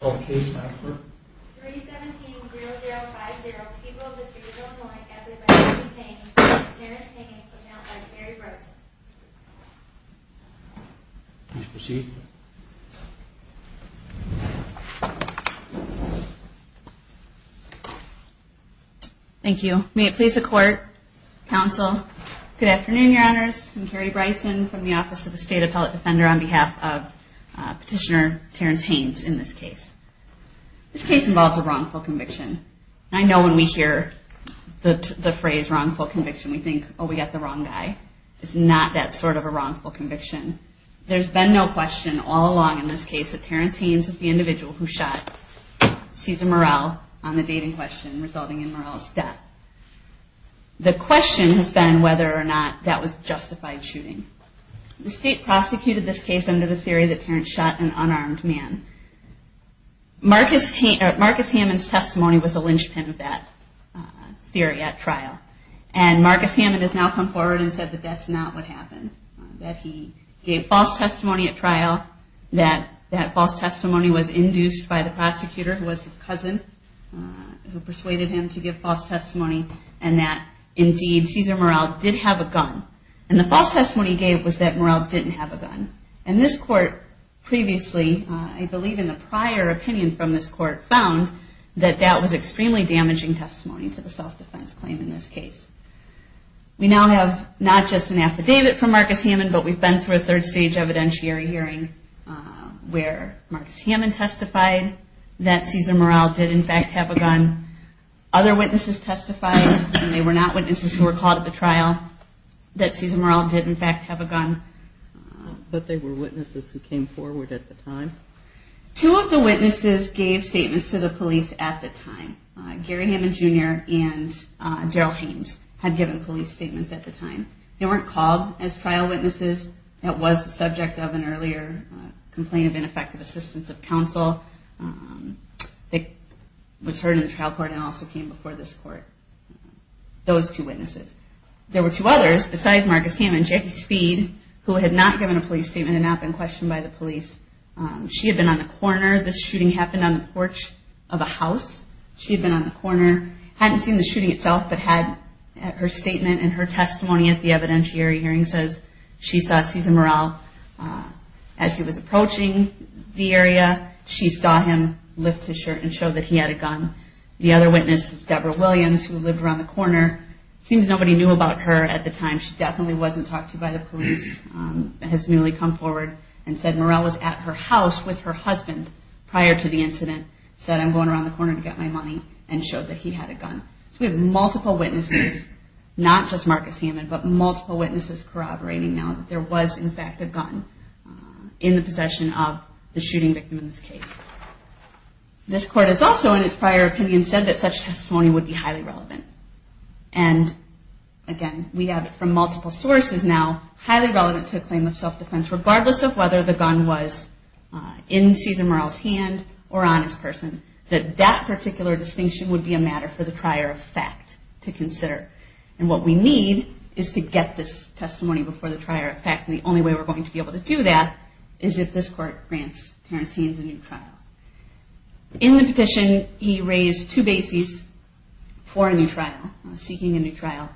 Okay. Thank you. May it please the court. Counsel. Good afternoon. Your honors. I'm Carrie Bryson from the Office of the State Appellate Defender on behalf of Petitioner Terrence Haynes in this case. This case involves a wrongful conviction. I know when we hear the phrase wrongful conviction, we think, oh, we got the wrong guy. It's not that sort of a wrongful conviction. There's been no question all along in this case that Terrence Haynes is the individual who shot Cesar Murrell on the dating question resulting in Murrell's death. The question has been whether or not that was justified shooting. The case under the theory that Terrence shot an unarmed man. Marcus Hammond's testimony was a linchpin of that theory at trial. And Marcus Hammond has now come forward and said that that's not what happened. That he gave false testimony at trial, that that false testimony was induced by the prosecutor who was his cousin, who persuaded him to give false testimony, and that indeed Cesar Murrell did have a gun. And the false testimony he gave was that Murrell didn't have a gun. And this court previously, I believe in the prior opinion from this court, found that that was extremely damaging testimony to the self-defense claim in this case. We now have not just an affidavit from Marcus Hammond, but we've been through a third stage evidentiary hearing where Marcus Hammond testified that Cesar Murrell did in fact have a gun. Other witnesses testified, and they were not witnesses who were caught at the trial, that Cesar Murrell did in fact have a gun. But they were witnesses who came forward at the time? Two of the witnesses gave statements to the police at the time. Gary Hammond Jr. and Darryl Haynes had given police statements at the time. They weren't called as trial witnesses. It was the subject of an earlier complaint of ineffective assistance of counsel that was heard in the trial court and also came before this court. Those two witnesses. There were two others besides Marcus Hammond, Jackie Speed, who had not given a police statement and not been questioned by the police. She had been on the corner. This shooting happened on the porch of a house. She had been on the corner, hadn't seen the shooting itself, but had her statement and her testimony at the evidentiary hearing says she saw Cesar Murrell as he was approaching the area. She saw him lift his shirt and show that he had a gun. The other witness is Deborah Williams, who lived around the corner. Seems nobody knew about her at the time. She definitely wasn't talked to by the police. Has newly come forward and said Murrell was at her house with her husband prior to the incident. Said I'm going around the corner to get my money and showed that he had a gun. So we have multiple witnesses, not just Marcus Hammond, but multiple witnesses corroborating now that there was in fact a gun in the possession of the shooting victim in this case. This court has also in its prior opinion said that such testimony would be highly relevant. And again, we have it from multiple sources now, highly relevant to a claim of self-defense, regardless of whether the gun was in Cesar Murrell's hand or on his person, that that particular distinction would be a matter for the trier of fact to consider. And what we need is to get this testimony before the trier of fact. And the only way we're going to be able to do that is if this court grants Terrence Haynes a new trial. In the trial, seeking a new trial.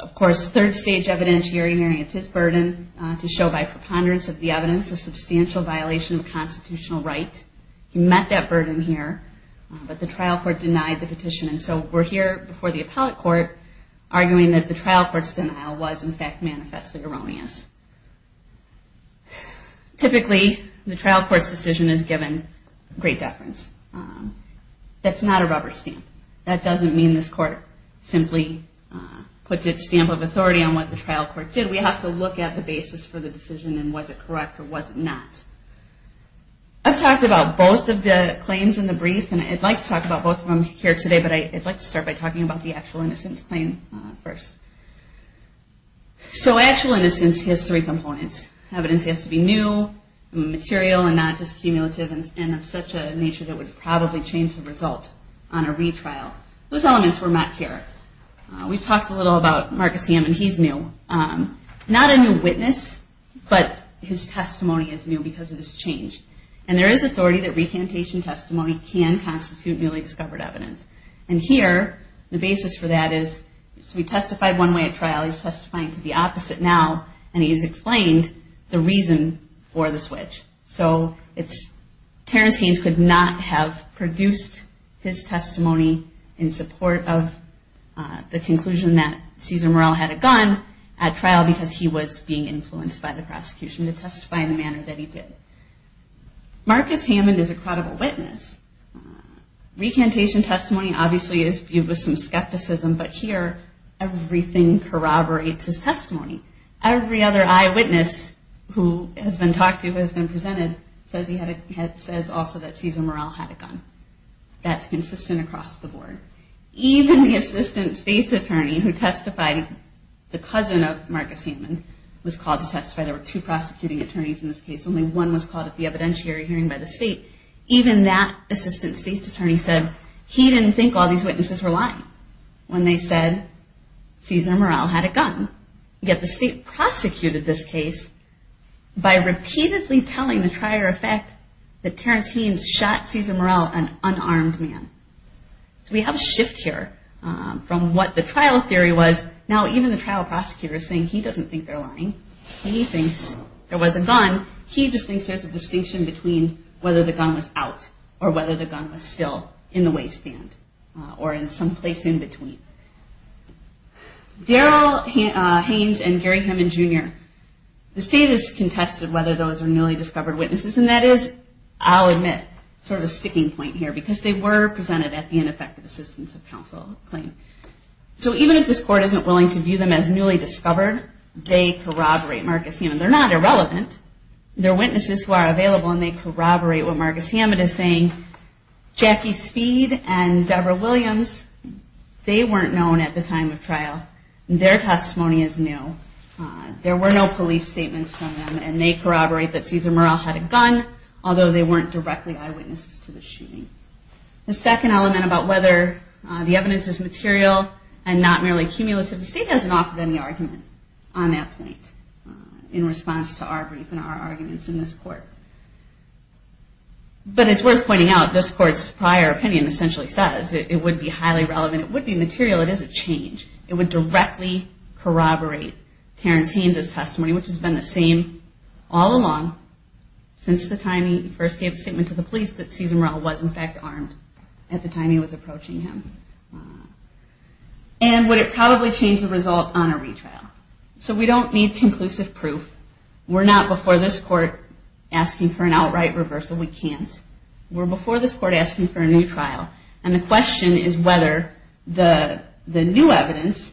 Of course, third stage evidentiary hearing is his burden to show by preponderance of the evidence a substantial violation of constitutional right. He met that burden here, but the trial court denied the petition. And so we're here before the appellate court arguing that the trial court's denial was in fact manifestly erroneous. Typically, the trial court's given great deference. That's not a rubber stamp. That doesn't mean this court simply puts its stamp of authority on what the trial court did. We have to look at the basis for the decision and was it correct or was it not. I've talked about both of the claims in the brief and I'd like to talk about both of them here today, but I'd like to start by talking about the actual innocence claim first. So actual innocence has three components. Evidence has to be new, material, and not just cumulative and of such a nature that would probably change the result on a retrial. Those elements were met here. We talked a little about Marcus Hammond. He's new. Not a new witness, but his testimony is new because it has changed. And there is authority that recantation testimony can constitute newly discovered evidence. And here, the basis for that is, so he testified one way at trial, he's testifying to the opposite now, and he has explained the reason for the switch. So Terrence Haynes could not have produced his testimony in support of the conclusion that Cesar Morrell had a gun at trial because he was being influenced by the prosecution to testify in the manner that he did. Marcus Hammond is a credible witness. Recantation testimony obviously is viewed with some skepticism, but here everything corroborates his testimony. Every other eyewitness who has been talked to, who has been presented, says also that Cesar Morrell had a gun. That's consistent across the board. Even the assistant state's attorney who testified, the cousin of Marcus Hammond, was called to testify. There were two prosecuting attorneys in this case. Only one was called at the evidentiary hearing by the state. Even that assistant state's attorney said he didn't think all these witnesses were lying when they said Cesar Morrell had a gun. Yet the state prosecuted this case by repeatedly telling the trier of fact that Terrence Haynes shot Cesar Morrell, an unarmed man. So we have a shift here from what the trial theory was. Now even the trial prosecutor is saying he doesn't think they're lying. He thinks there was a gun. He just thinks there's a distinction between whether the gun was out or whether the gun was still in the waistband or in some place in between. Daryl Haynes and Gary Hammond Jr., the state has contested whether those are newly discovered witnesses. And that is, I'll admit, sort of a sticking point here because they were presented at the ineffective assistance of counsel claim. So even if this court isn't willing to view them as newly discovered, they corroborate Marcus Hammond. They're not irrelevant. They're witnesses who are available and they corroborate what Marcus Hammond is saying. Jackie Speed and Debra Williams, they weren't known at the time of trial. Their testimony is new. There were no police statements from them and they corroborate that Cesar Morrell had a gun, although they weren't directly eyewitnesses to the shooting. The second element about whether the evidence is material and not merely cumulative, the state hasn't offered any argument on that point in response to our brief and our arguments in this court. But it's worth pointing out this court's prior opinion essentially says it would be highly relevant. It would be material. It is a change. It would directly corroborate Terrence Haynes' testimony, which has been the same all along since the time he first gave a statement to the police that Cesar Morrell was in fact armed at the time he was approaching him. And would it probably change the result on a retrial? So we don't need conclusive proof. We're not before this court asking for an outright reversal. We can't. We're before this court asking for a new trial. And the question is whether the new evidence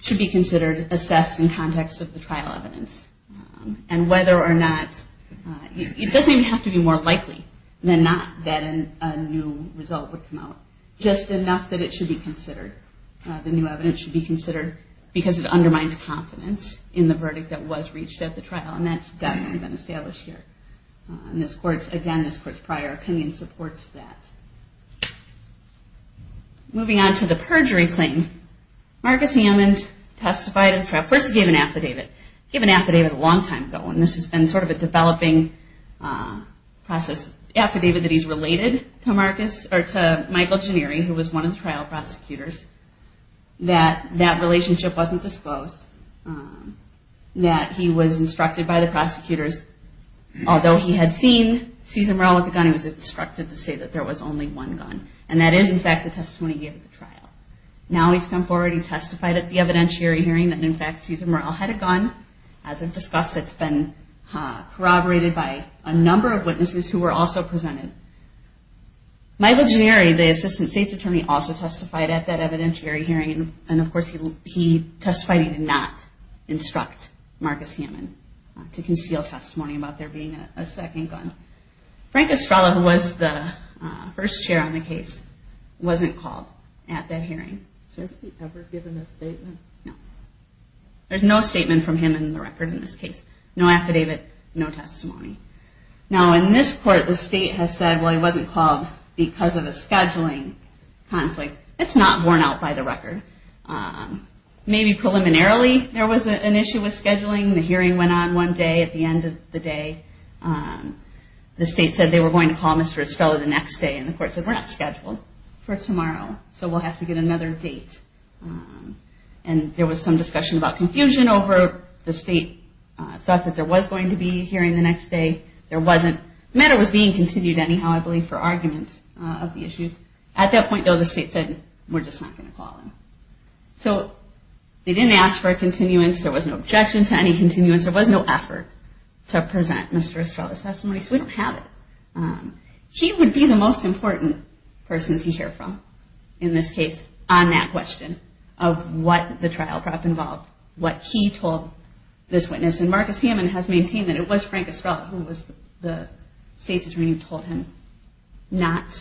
should be considered assessed in context of the trial evidence. And whether or not, it doesn't even have to be more likely than not that a new result would come out. Just enough that it should be considered. The new evidence should be considered because it undermines confidence in the verdict that was reached at the trial. And that's definitely been established here. And this court's, again, this court's prior opinion supports that. Moving on to the perjury claim. Marcus Hammond testified at the trial. Of course he gave an affidavit. He gave an affidavit a long time ago. And this has been sort of a developing process affidavit that he's related to Michael Janieri, who was one of the trial prosecutors. That that relationship wasn't disclosed. That he was instructed by the prosecutors, although he had seen Cesar Murrell with a gun, he was instructed to say that there was only one gun. And that is, in fact, the testimony he gave at the trial. Now he's come forward and testified at the evidentiary hearing that, in fact, Cesar Murrell had a gun. As I've discussed, it's been corroborated by a number of Michael Janieri, the assistant state's attorney, also testified at that evidentiary hearing. And, of course, he testified he did not instruct Marcus Hammond to conceal testimony about there being a second gun. Frank Estrella, who was the first chair on the case, wasn't called at that hearing. So has he ever given a statement? No. There's no statement from him in the record in this case. No affidavit. No testimony. Now in this court, the state has said, well, he wasn't called because of a scheduling conflict. It's not borne out by the record. Maybe preliminarily there was an issue with scheduling. The hearing went on one day. At the end of the day, the state said they were going to call Mr. Estrella the next day. And the court said, we're not scheduled for tomorrow. So we'll have to get another date. And there was some discussion about confusion over the state thought that there was going to be a hearing the next day. There wasn't. The matter was being continued anyhow, I believe, for argument of the issues. At that point, though, the state said, we're just not going to call him. So they didn't ask for a continuance. There was no objection to any continuance. There was no effort to present Mr. Estrella's testimony. So we don't have it. He would be the most important person to hear from in this case on that question of what the trial prep involved, what he told this witness. And Marcus Hammond has maintained that it was Frank Estrella who was the state's attorney who told him not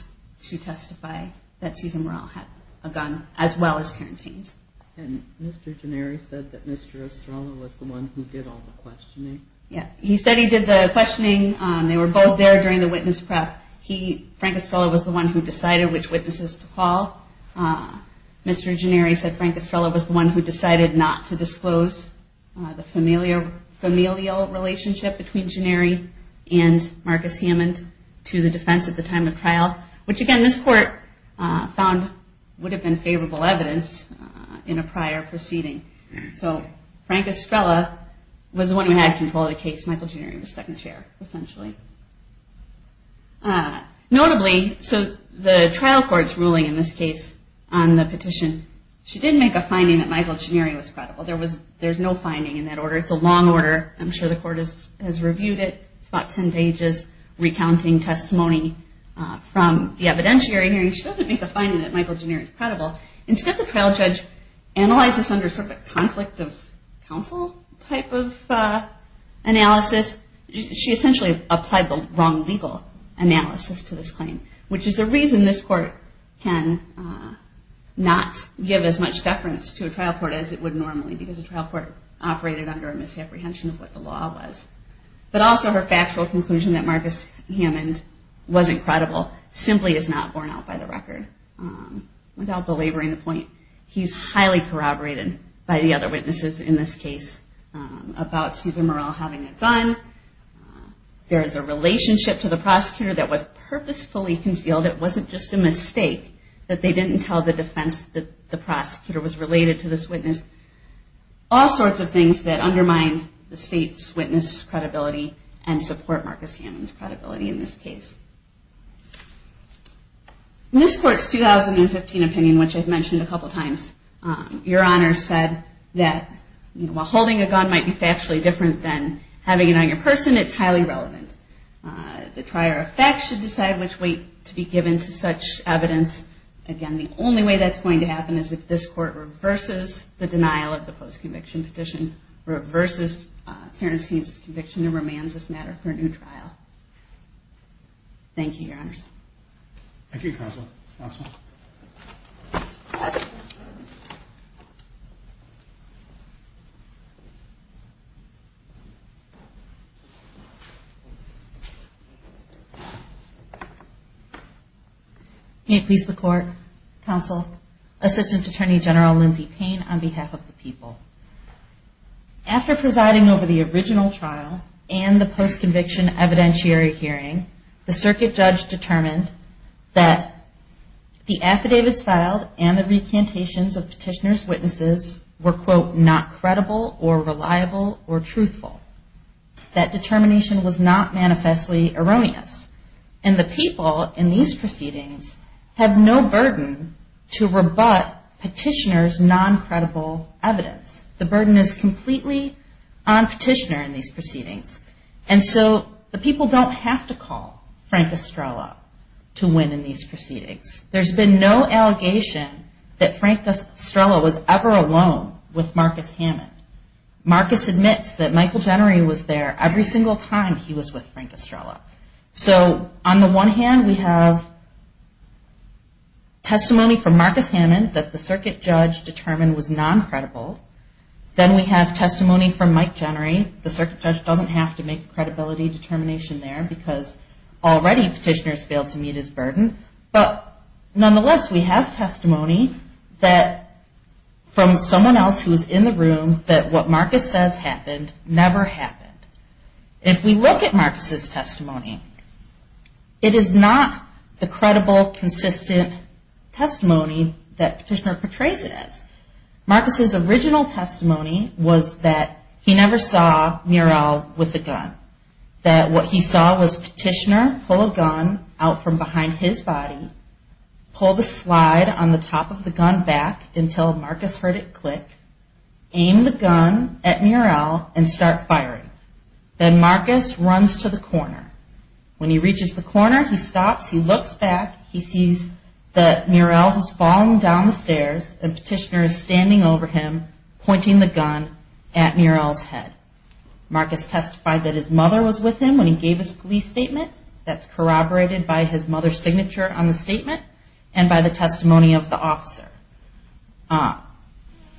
to testify that Cesar Morrell had a gun, as well as quarantined. And Mr. Gennari said that Mr. Estrella was the one who did all the questioning? Yeah, he said he did the questioning. They were both there during the witness prep. Frank Estrella was the one who decided which witnesses to call. Mr. Gennari said Frank Estrella was the one who decided not to relationship between Gennari and Marcus Hammond to the defense at the time of trial, which again, this court found would have been favorable evidence in a prior proceeding. So Frank Estrella was the one who had control of the case. Michael Gennari was second chair, essentially. Notably, so the trial court's ruling in this case, on the petition, she didn't make a finding that Michael Gennari was credible. There's no has reviewed it. It's about 10 pages recounting testimony from the evidentiary hearing. She doesn't make a finding that Michael Gennari is credible. Instead, the trial judge analyzed this under sort of a conflict of counsel type of analysis. She essentially applied the wrong legal analysis to this claim, which is the reason this court can not give as much deference to a trial court as it would normally because the trial court operated under a misapprehension of what the law was. But also her factual conclusion that Marcus Hammond wasn't credible simply is not borne out by the record. Without belaboring the point, he's highly corroborated by the other witnesses in this case about Susan Murrell having a gun. There's a relationship to the prosecutor that was purposefully concealed. It wasn't just a mistake that they didn't tell the defense that the prosecutor was guilty. These are things that undermine the state's witness credibility and support Marcus Hammond's credibility in this case. In this court's 2015 opinion, which I've mentioned a couple times, your honor said that while holding a gun might be factually different than having it on your person, it's highly relevant. The trier of facts should decide which way to be given to such evidence. Again, the only way that's going to happen is if this court reverses the denial of the post-conviction petition, reverses Terence Haynes' conviction, and remands this matter for a new trial. Thank you, your honors. Thank you, counsel. May it please the court, counsel, Assistant Attorney General Lindsay Payne on behalf of the people. After presiding over the original trial and the post-conviction evidentiary hearing, the circuit judge determined that the affidavits filed and the recantations of petitioner's witnesses were, quote, not credible or reliable or truthful. That determination was not manifestly erroneous. And the people in these proceedings have no burden to rebut petitioner's non-credible evidence. The burden is completely on petitioner in these proceedings. And so the people don't have to call Frank Estrella to win in these proceedings. There's been no allegation that Frank Estrella was ever alone with Marcus Hammond. Marcus admits that Michael Jennery was there every single time he was with Frank Estrella. So on the one hand, we have testimony from Marcus Hammond that the circuit judge determined was non-credible. Then we have testimony from Mike Jennery. The circuit judge doesn't have to make credibility determination there because already petitioner's failed to meet his burden. But nonetheless, we have testimony that from someone else who was in the room that what Marcus says happened never happened. If we look at Marcus's testimony, it is not the credible, consistent testimony that Marcus's original testimony was that he never saw Murrell with a gun. That what he saw was petitioner pull a gun out from behind his body, pull the slide on the top of the gun back until Marcus heard it click, aim the gun at Murrell and start firing. Then Marcus runs to the corner. When he reaches the corner, he stops, he looks back, he sees that Murrell has fallen down the stairs and standing over him, pointing the gun at Murrell's head. Marcus testified that his mother was with him when he gave his police statement. That's corroborated by his mother's signature on the statement and by the testimony of the officer.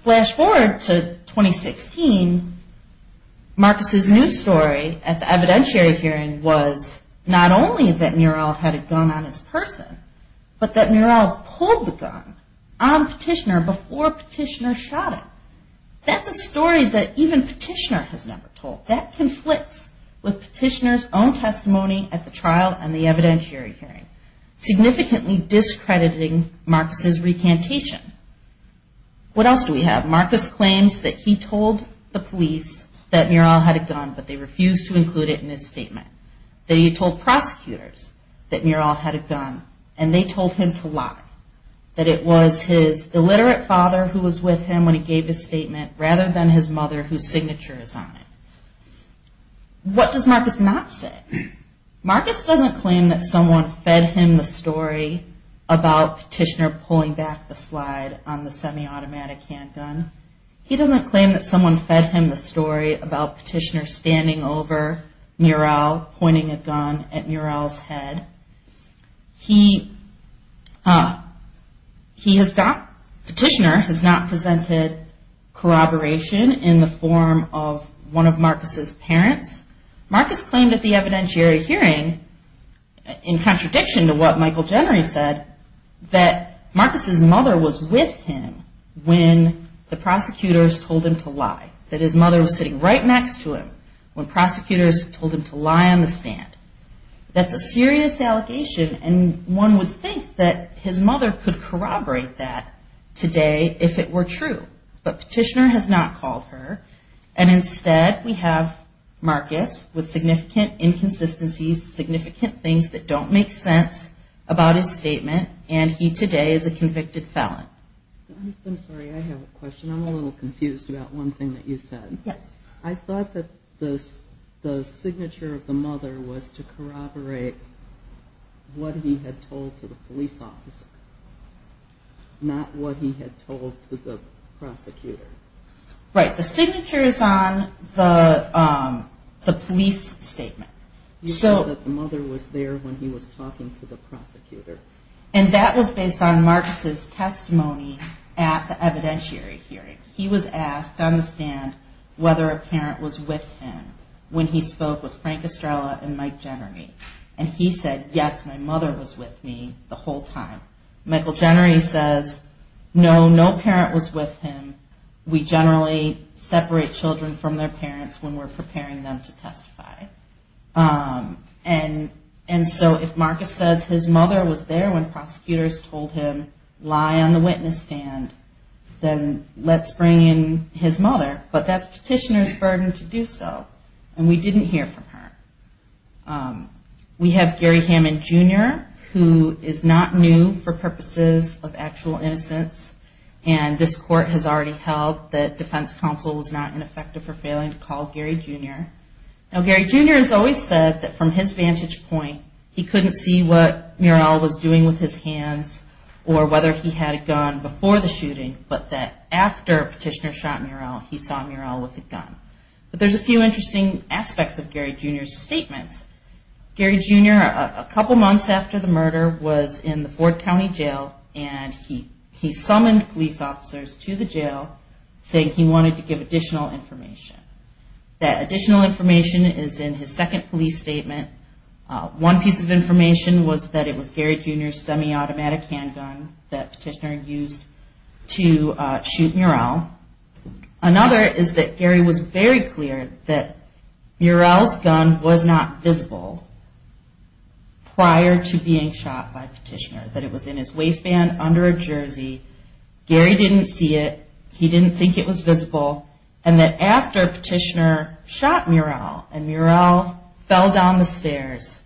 Flash forward to 2016, Marcus's new story at the evidentiary hearing was not only that Murrell had a gun on his person, but that Murrell pulled the gun and the petitioner shot him. That's a story that even petitioner has never told. That conflicts with petitioner's own testimony at the trial and the evidentiary hearing, significantly discrediting Marcus's recantation. What else do we have? Marcus claims that he told the police that Murrell had a gun, but they refused to include it in his statement. That he told prosecutors that Murrell had a gun and they told him to lie. That it was his illiterate father who was with him when he gave his statement, rather than his mother whose signature is on it. What does Marcus not say? Marcus doesn't claim that someone fed him the story about petitioner pulling back the slide on the semi-automatic handgun. He doesn't claim that someone fed him the story about petitioner standing over Murrell, pointing a gun at Murrell's head. He has not, petitioner has not presented corroboration in the form of one of Marcus's parents. Marcus claimed at the evidentiary hearing, in contradiction to what Michael Jennery said, that Marcus's mother was with him when the prosecutors told him to lie. That his mother was sitting right next to him when prosecutors told him to lie on the stand. That's a serious allegation and one would think that his mother could corroborate that today if it were true. But petitioner has not called her and instead we have Marcus with significant inconsistencies, significant things that don't make sense about his statement and he today is a convicted felon. I'm sorry I have a question. I'm a little confused about one thing that you said. Yes. I thought that the signature of the mother was what he had told to the police officer, not what he had told to the prosecutor. Right, the signature is on the police statement. You said that the mother was there when he was talking to the prosecutor. And that was based on Marcus's testimony at the evidentiary hearing. He was asked on the stand whether a parent was with him when he spoke with Frank Estrella and Mike was with me the whole time. Michael Jennery says no, no parent was with him. We generally separate children from their parents when we're preparing them to testify. And so if Marcus says his mother was there when prosecutors told him lie on the witness stand, then let's bring in his mother. But that's petitioner's burden to do so and we didn't hear from her. We have Gary Hammond Jr. who is not new for purposes of actual innocence and this court has already held that defense counsel was not ineffective for failing to call Gary Jr. Now Gary Jr. has always said that from his vantage point, he couldn't see what Murrell was doing with his hands or whether he had a gun before the shooting, but that after petitioner shot Murrell, he saw Murrell with a gun. But there's a few interesting aspects of Gary Jr.'s statements. Gary Jr., a couple months after the murder, was in the Ford County Jail and he summoned police officers to the jail saying he wanted to give additional information. That additional information is in his second police statement. One piece of information was that it was Gary Jr.'s semi-automatic handgun that petitioner used to shoot Murrell. Another is that Gary was very clear that Murrell's gun was not visible prior to being shot by petitioner, that it was in his waistband under a jersey, Gary didn't see it, he didn't think it was visible, and that after petitioner shot Murrell and Murrell fell down the stairs,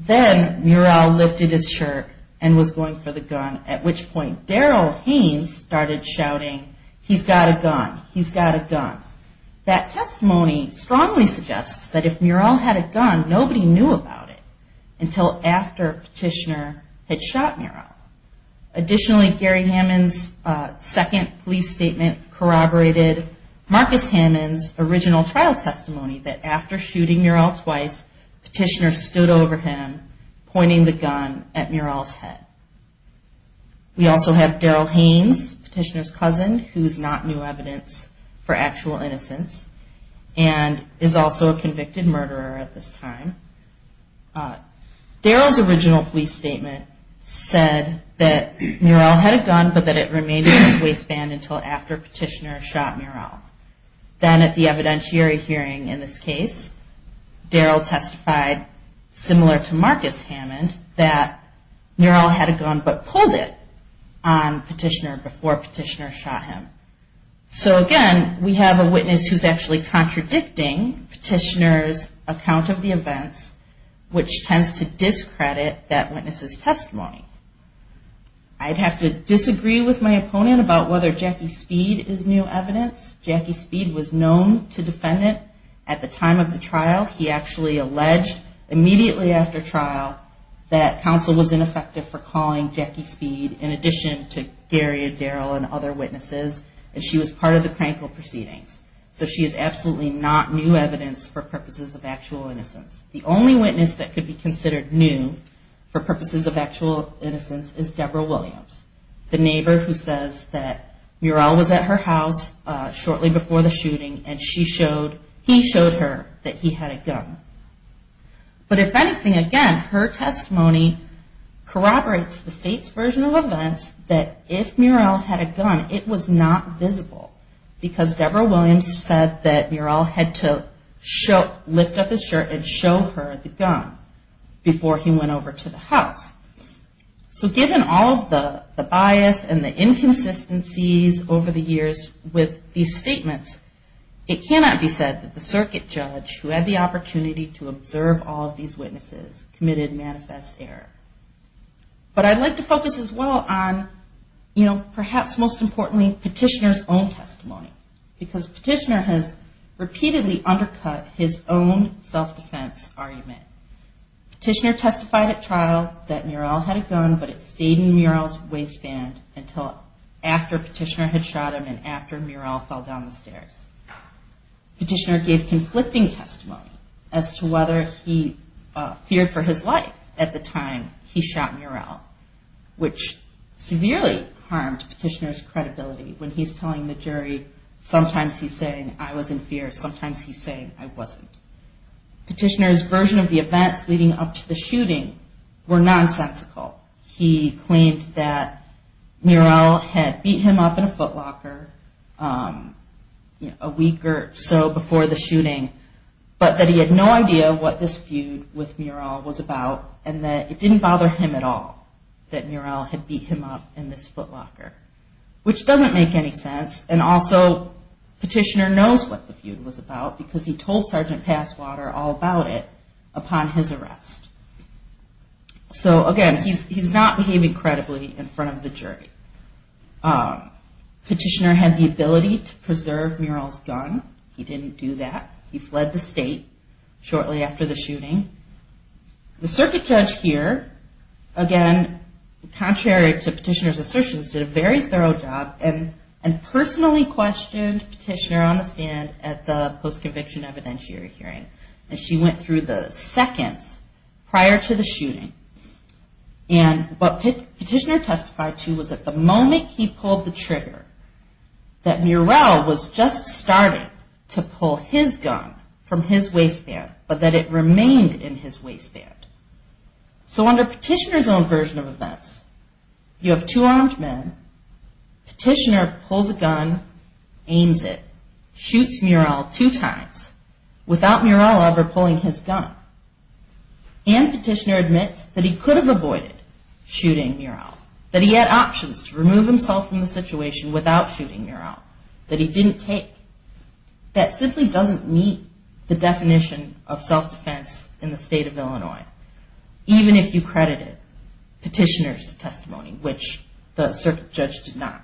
then Murrell lifted his shirt and was going for the gun, at which point Daryl Haynes started shouting, he's got a gun, he's got a gun. That testimony strongly suggests that if Murrell had a gun, nobody knew about it until after petitioner had shot Murrell. Additionally, Gary Hammond's second police statement corroborated Marcus Hammond's original trial testimony that after shooting Murrell twice, petitioner stood over him pointing the gun at Murrell's head. We also have Daryl Haynes, petitioner's cousin, who's not new evidence for actual innocence and is also a convicted murderer at this time. Daryl's original police statement said that Murrell had a gun but that it remained in his waistband until after petitioner shot Murrell. Then at the evidentiary hearing in this case, Daryl testified, similar to Marcus Hammond, that Murrell had a gun but pulled it on petitioner before petitioner shot him. So again, we have a case that's actually contradicting petitioner's account of the events, which tends to discredit that witness's testimony. I'd have to disagree with my opponent about whether Jackie Speed is new evidence. Jackie Speed was known to defendant at the time of the trial. He actually alleged immediately after trial that counsel was ineffective for calling Jackie Speed in addition to Gary and Daryl and other witnesses, and she was part of the Krankel proceedings. So she is absolutely not new evidence for purposes of actual innocence. The only witness that could be considered new for purposes of actual innocence is Deborah Williams, the neighbor who says that Murrell was at her house shortly before the shooting and he showed her that he had a gun. But if anything, again, her testimony corroborates the state's version of events that if Murrell had a gun, it was not visible because Deborah Williams said that Murrell had to lift up his shirt and show her the gun before he went over to the house. So given all of the bias and the inconsistencies over the years with these statements, it cannot be said that the circuit judge who had the opportunity to observe all of these witnesses committed manifest error. But I'd like to perhaps most importantly, petitioner's own testimony because petitioner has repeatedly undercut his own self-defense argument. Petitioner testified at trial that Murrell had a gun, but it stayed in Murrell's waistband until after petitioner had shot him and after Murrell fell down the stairs. Petitioner gave conflicting testimony as to whether he feared for his life at the time he shot him. And I think that's part of petitioner's credibility when he's telling the jury sometimes he's saying I was in fear, sometimes he's saying I wasn't. Petitioner's version of the events leading up to the shooting were nonsensical. He claimed that Murrell had beat him up in a footlocker a week or so before the shooting, but that he had no idea what this feud with Murrell was about and that it didn't bother him at all that Murrell had beat him up in this which doesn't make any sense and also petitioner knows what the feud was about because he told Sergeant Passwater all about it upon his arrest. So again, he's not behaving credibly in front of the jury. Petitioner had the ability to preserve Murrell's gun. He didn't do that. He fled the state shortly after the shooting. The circuit judge here, again, contrary to petitioner's assertions, did a very thorough job and personally questioned petitioner on the stand at the post-conviction evidentiary hearing. And she went through the seconds prior to the shooting. And what petitioner testified to was that the moment he pulled the trigger that Murrell was just starting to pull his gun from his waistband, but that it remained in his waistband. So under petitioner's own version of events, you have two armed men. Petitioner pulls a gun, aims it, shoots Murrell two times without Murrell ever pulling his gun. And petitioner admits that he could have avoided shooting Murrell, that he had options to remove himself from the situation without shooting Murrell, that he didn't take. That simply doesn't meet the definition of self-defense in the state of Illinois, even if you credit it. Petitioner's testimony, which the circuit judge did not.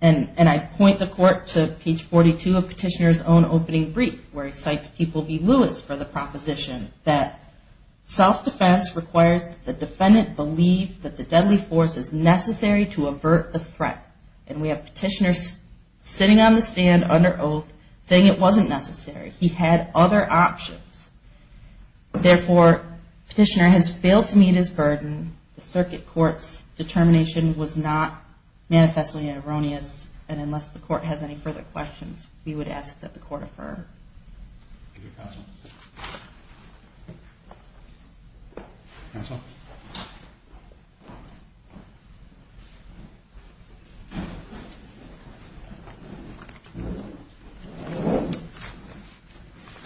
And I point the court to page 42 of petitioner's own opening brief, where he cites People v. Lewis for the proposition that self-defense requires the defendant believe that the deadly force is necessary to avert the threat. And we have petitioner sitting on the stand under oath saying it wasn't necessary. He had other options. Therefore, petitioner has failed to meet his burden. The circuit court's determination was not manifestly erroneous. And unless the court has any further questions, we would ask that the court refer.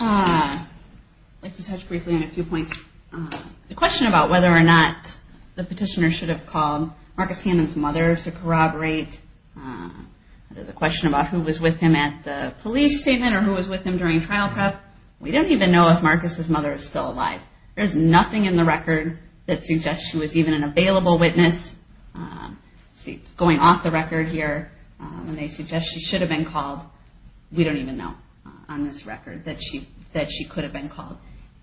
I'd like to touch briefly on a few points. The question about whether or not the petitioner should have called Marcus Hammond's mother to corroborate, the question about who was with him at the police statement or who was with him during trial prep, we don't even know if Marcus' mother is still alive. There's nothing in the record that suggests she was even an available witness. Going off the record here, when they suggest she should have been called, we don't even know on this record that she could have been called.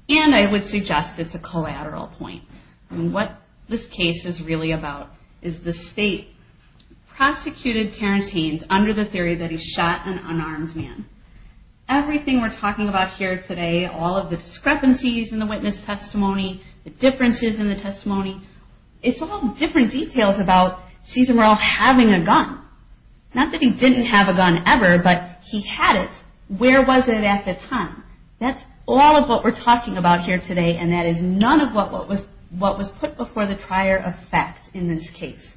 And I would suggest it's a collateral point. What this case is really about is the state prosecuted Terrence Haynes under the gun. Everything we're talking about here today, all of the discrepancies in the witness testimony, the differences in the testimony, it's all different details about Cesar Merle having a gun. Not that he didn't have a gun ever, but he had it. Where was it at the time? That's all of what we're talking about here today and that is none of what was put before the trier of fact in this case.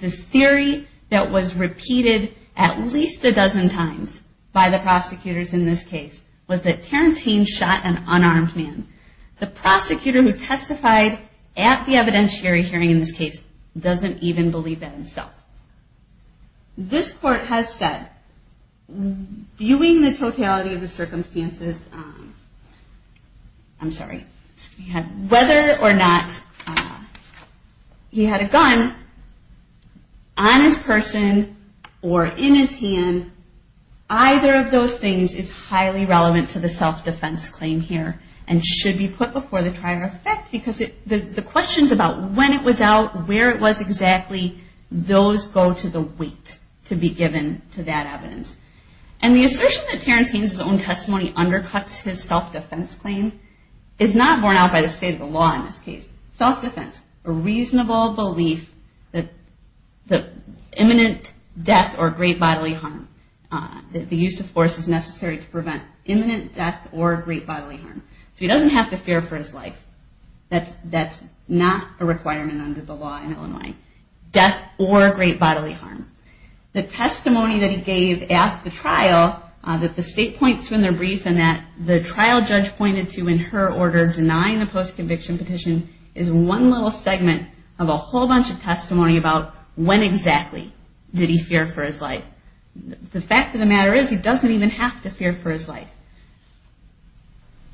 This theory that was repeated at least a hundred times in this case was that Terrence Haynes shot an unarmed man. The prosecutor who testified at the evidentiary hearing in this case doesn't even believe that himself. This court has said, viewing the totality of the circumstances, I'm sorry, whether or not he had a gun on his person or in his hand, either of those things is highly relevant to the self-defense claim here and should be put before the trier of fact because the questions about when it was out, where it was exactly, those go to the weight to be given to that evidence. And the assertion that Terrence Haynes' own testimony undercuts his self-defense claim is not borne out by the state of the law in this case. Self-defense, a imminent death or great bodily harm. The use of force is necessary to prevent imminent death or great bodily harm. So he doesn't have to fear for his life. That's not a requirement under the law in Illinois. Death or great bodily harm. The testimony that he gave at the trial that the state points to in their brief and that the trial judge pointed to in her order denying the post-conviction petition is one little segment of a question. Where exactly did he fear for his life? The fact of the matter is he doesn't even have to fear for his life.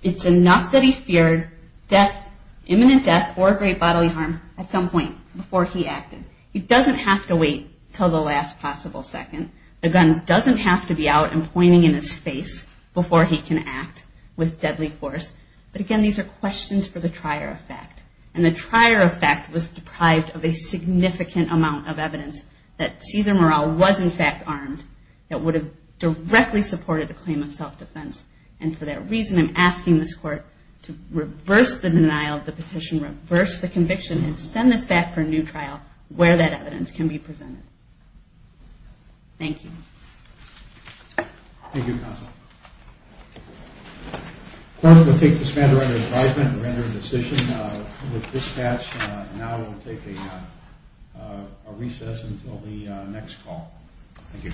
It's enough that he feared death, imminent death or great bodily harm at some point before he acted. He doesn't have to wait until the last possible second. The gun doesn't have to be out and pointing in his face before he can act with deadly force. But again, these are questions for the trier of fact. And the evidence that Cesar Moral was in fact armed that would have directly supported the claim of self-defense. And for that reason, I'm asking this court to reverse the denial of the petition, reverse the conviction and send this back for a new trial where that evidence can be presented. Thank you. Thank you. Well, we'll take this matter under advisement and render a decision with dispatch. Now we'll take a recess until the next call. Thank you.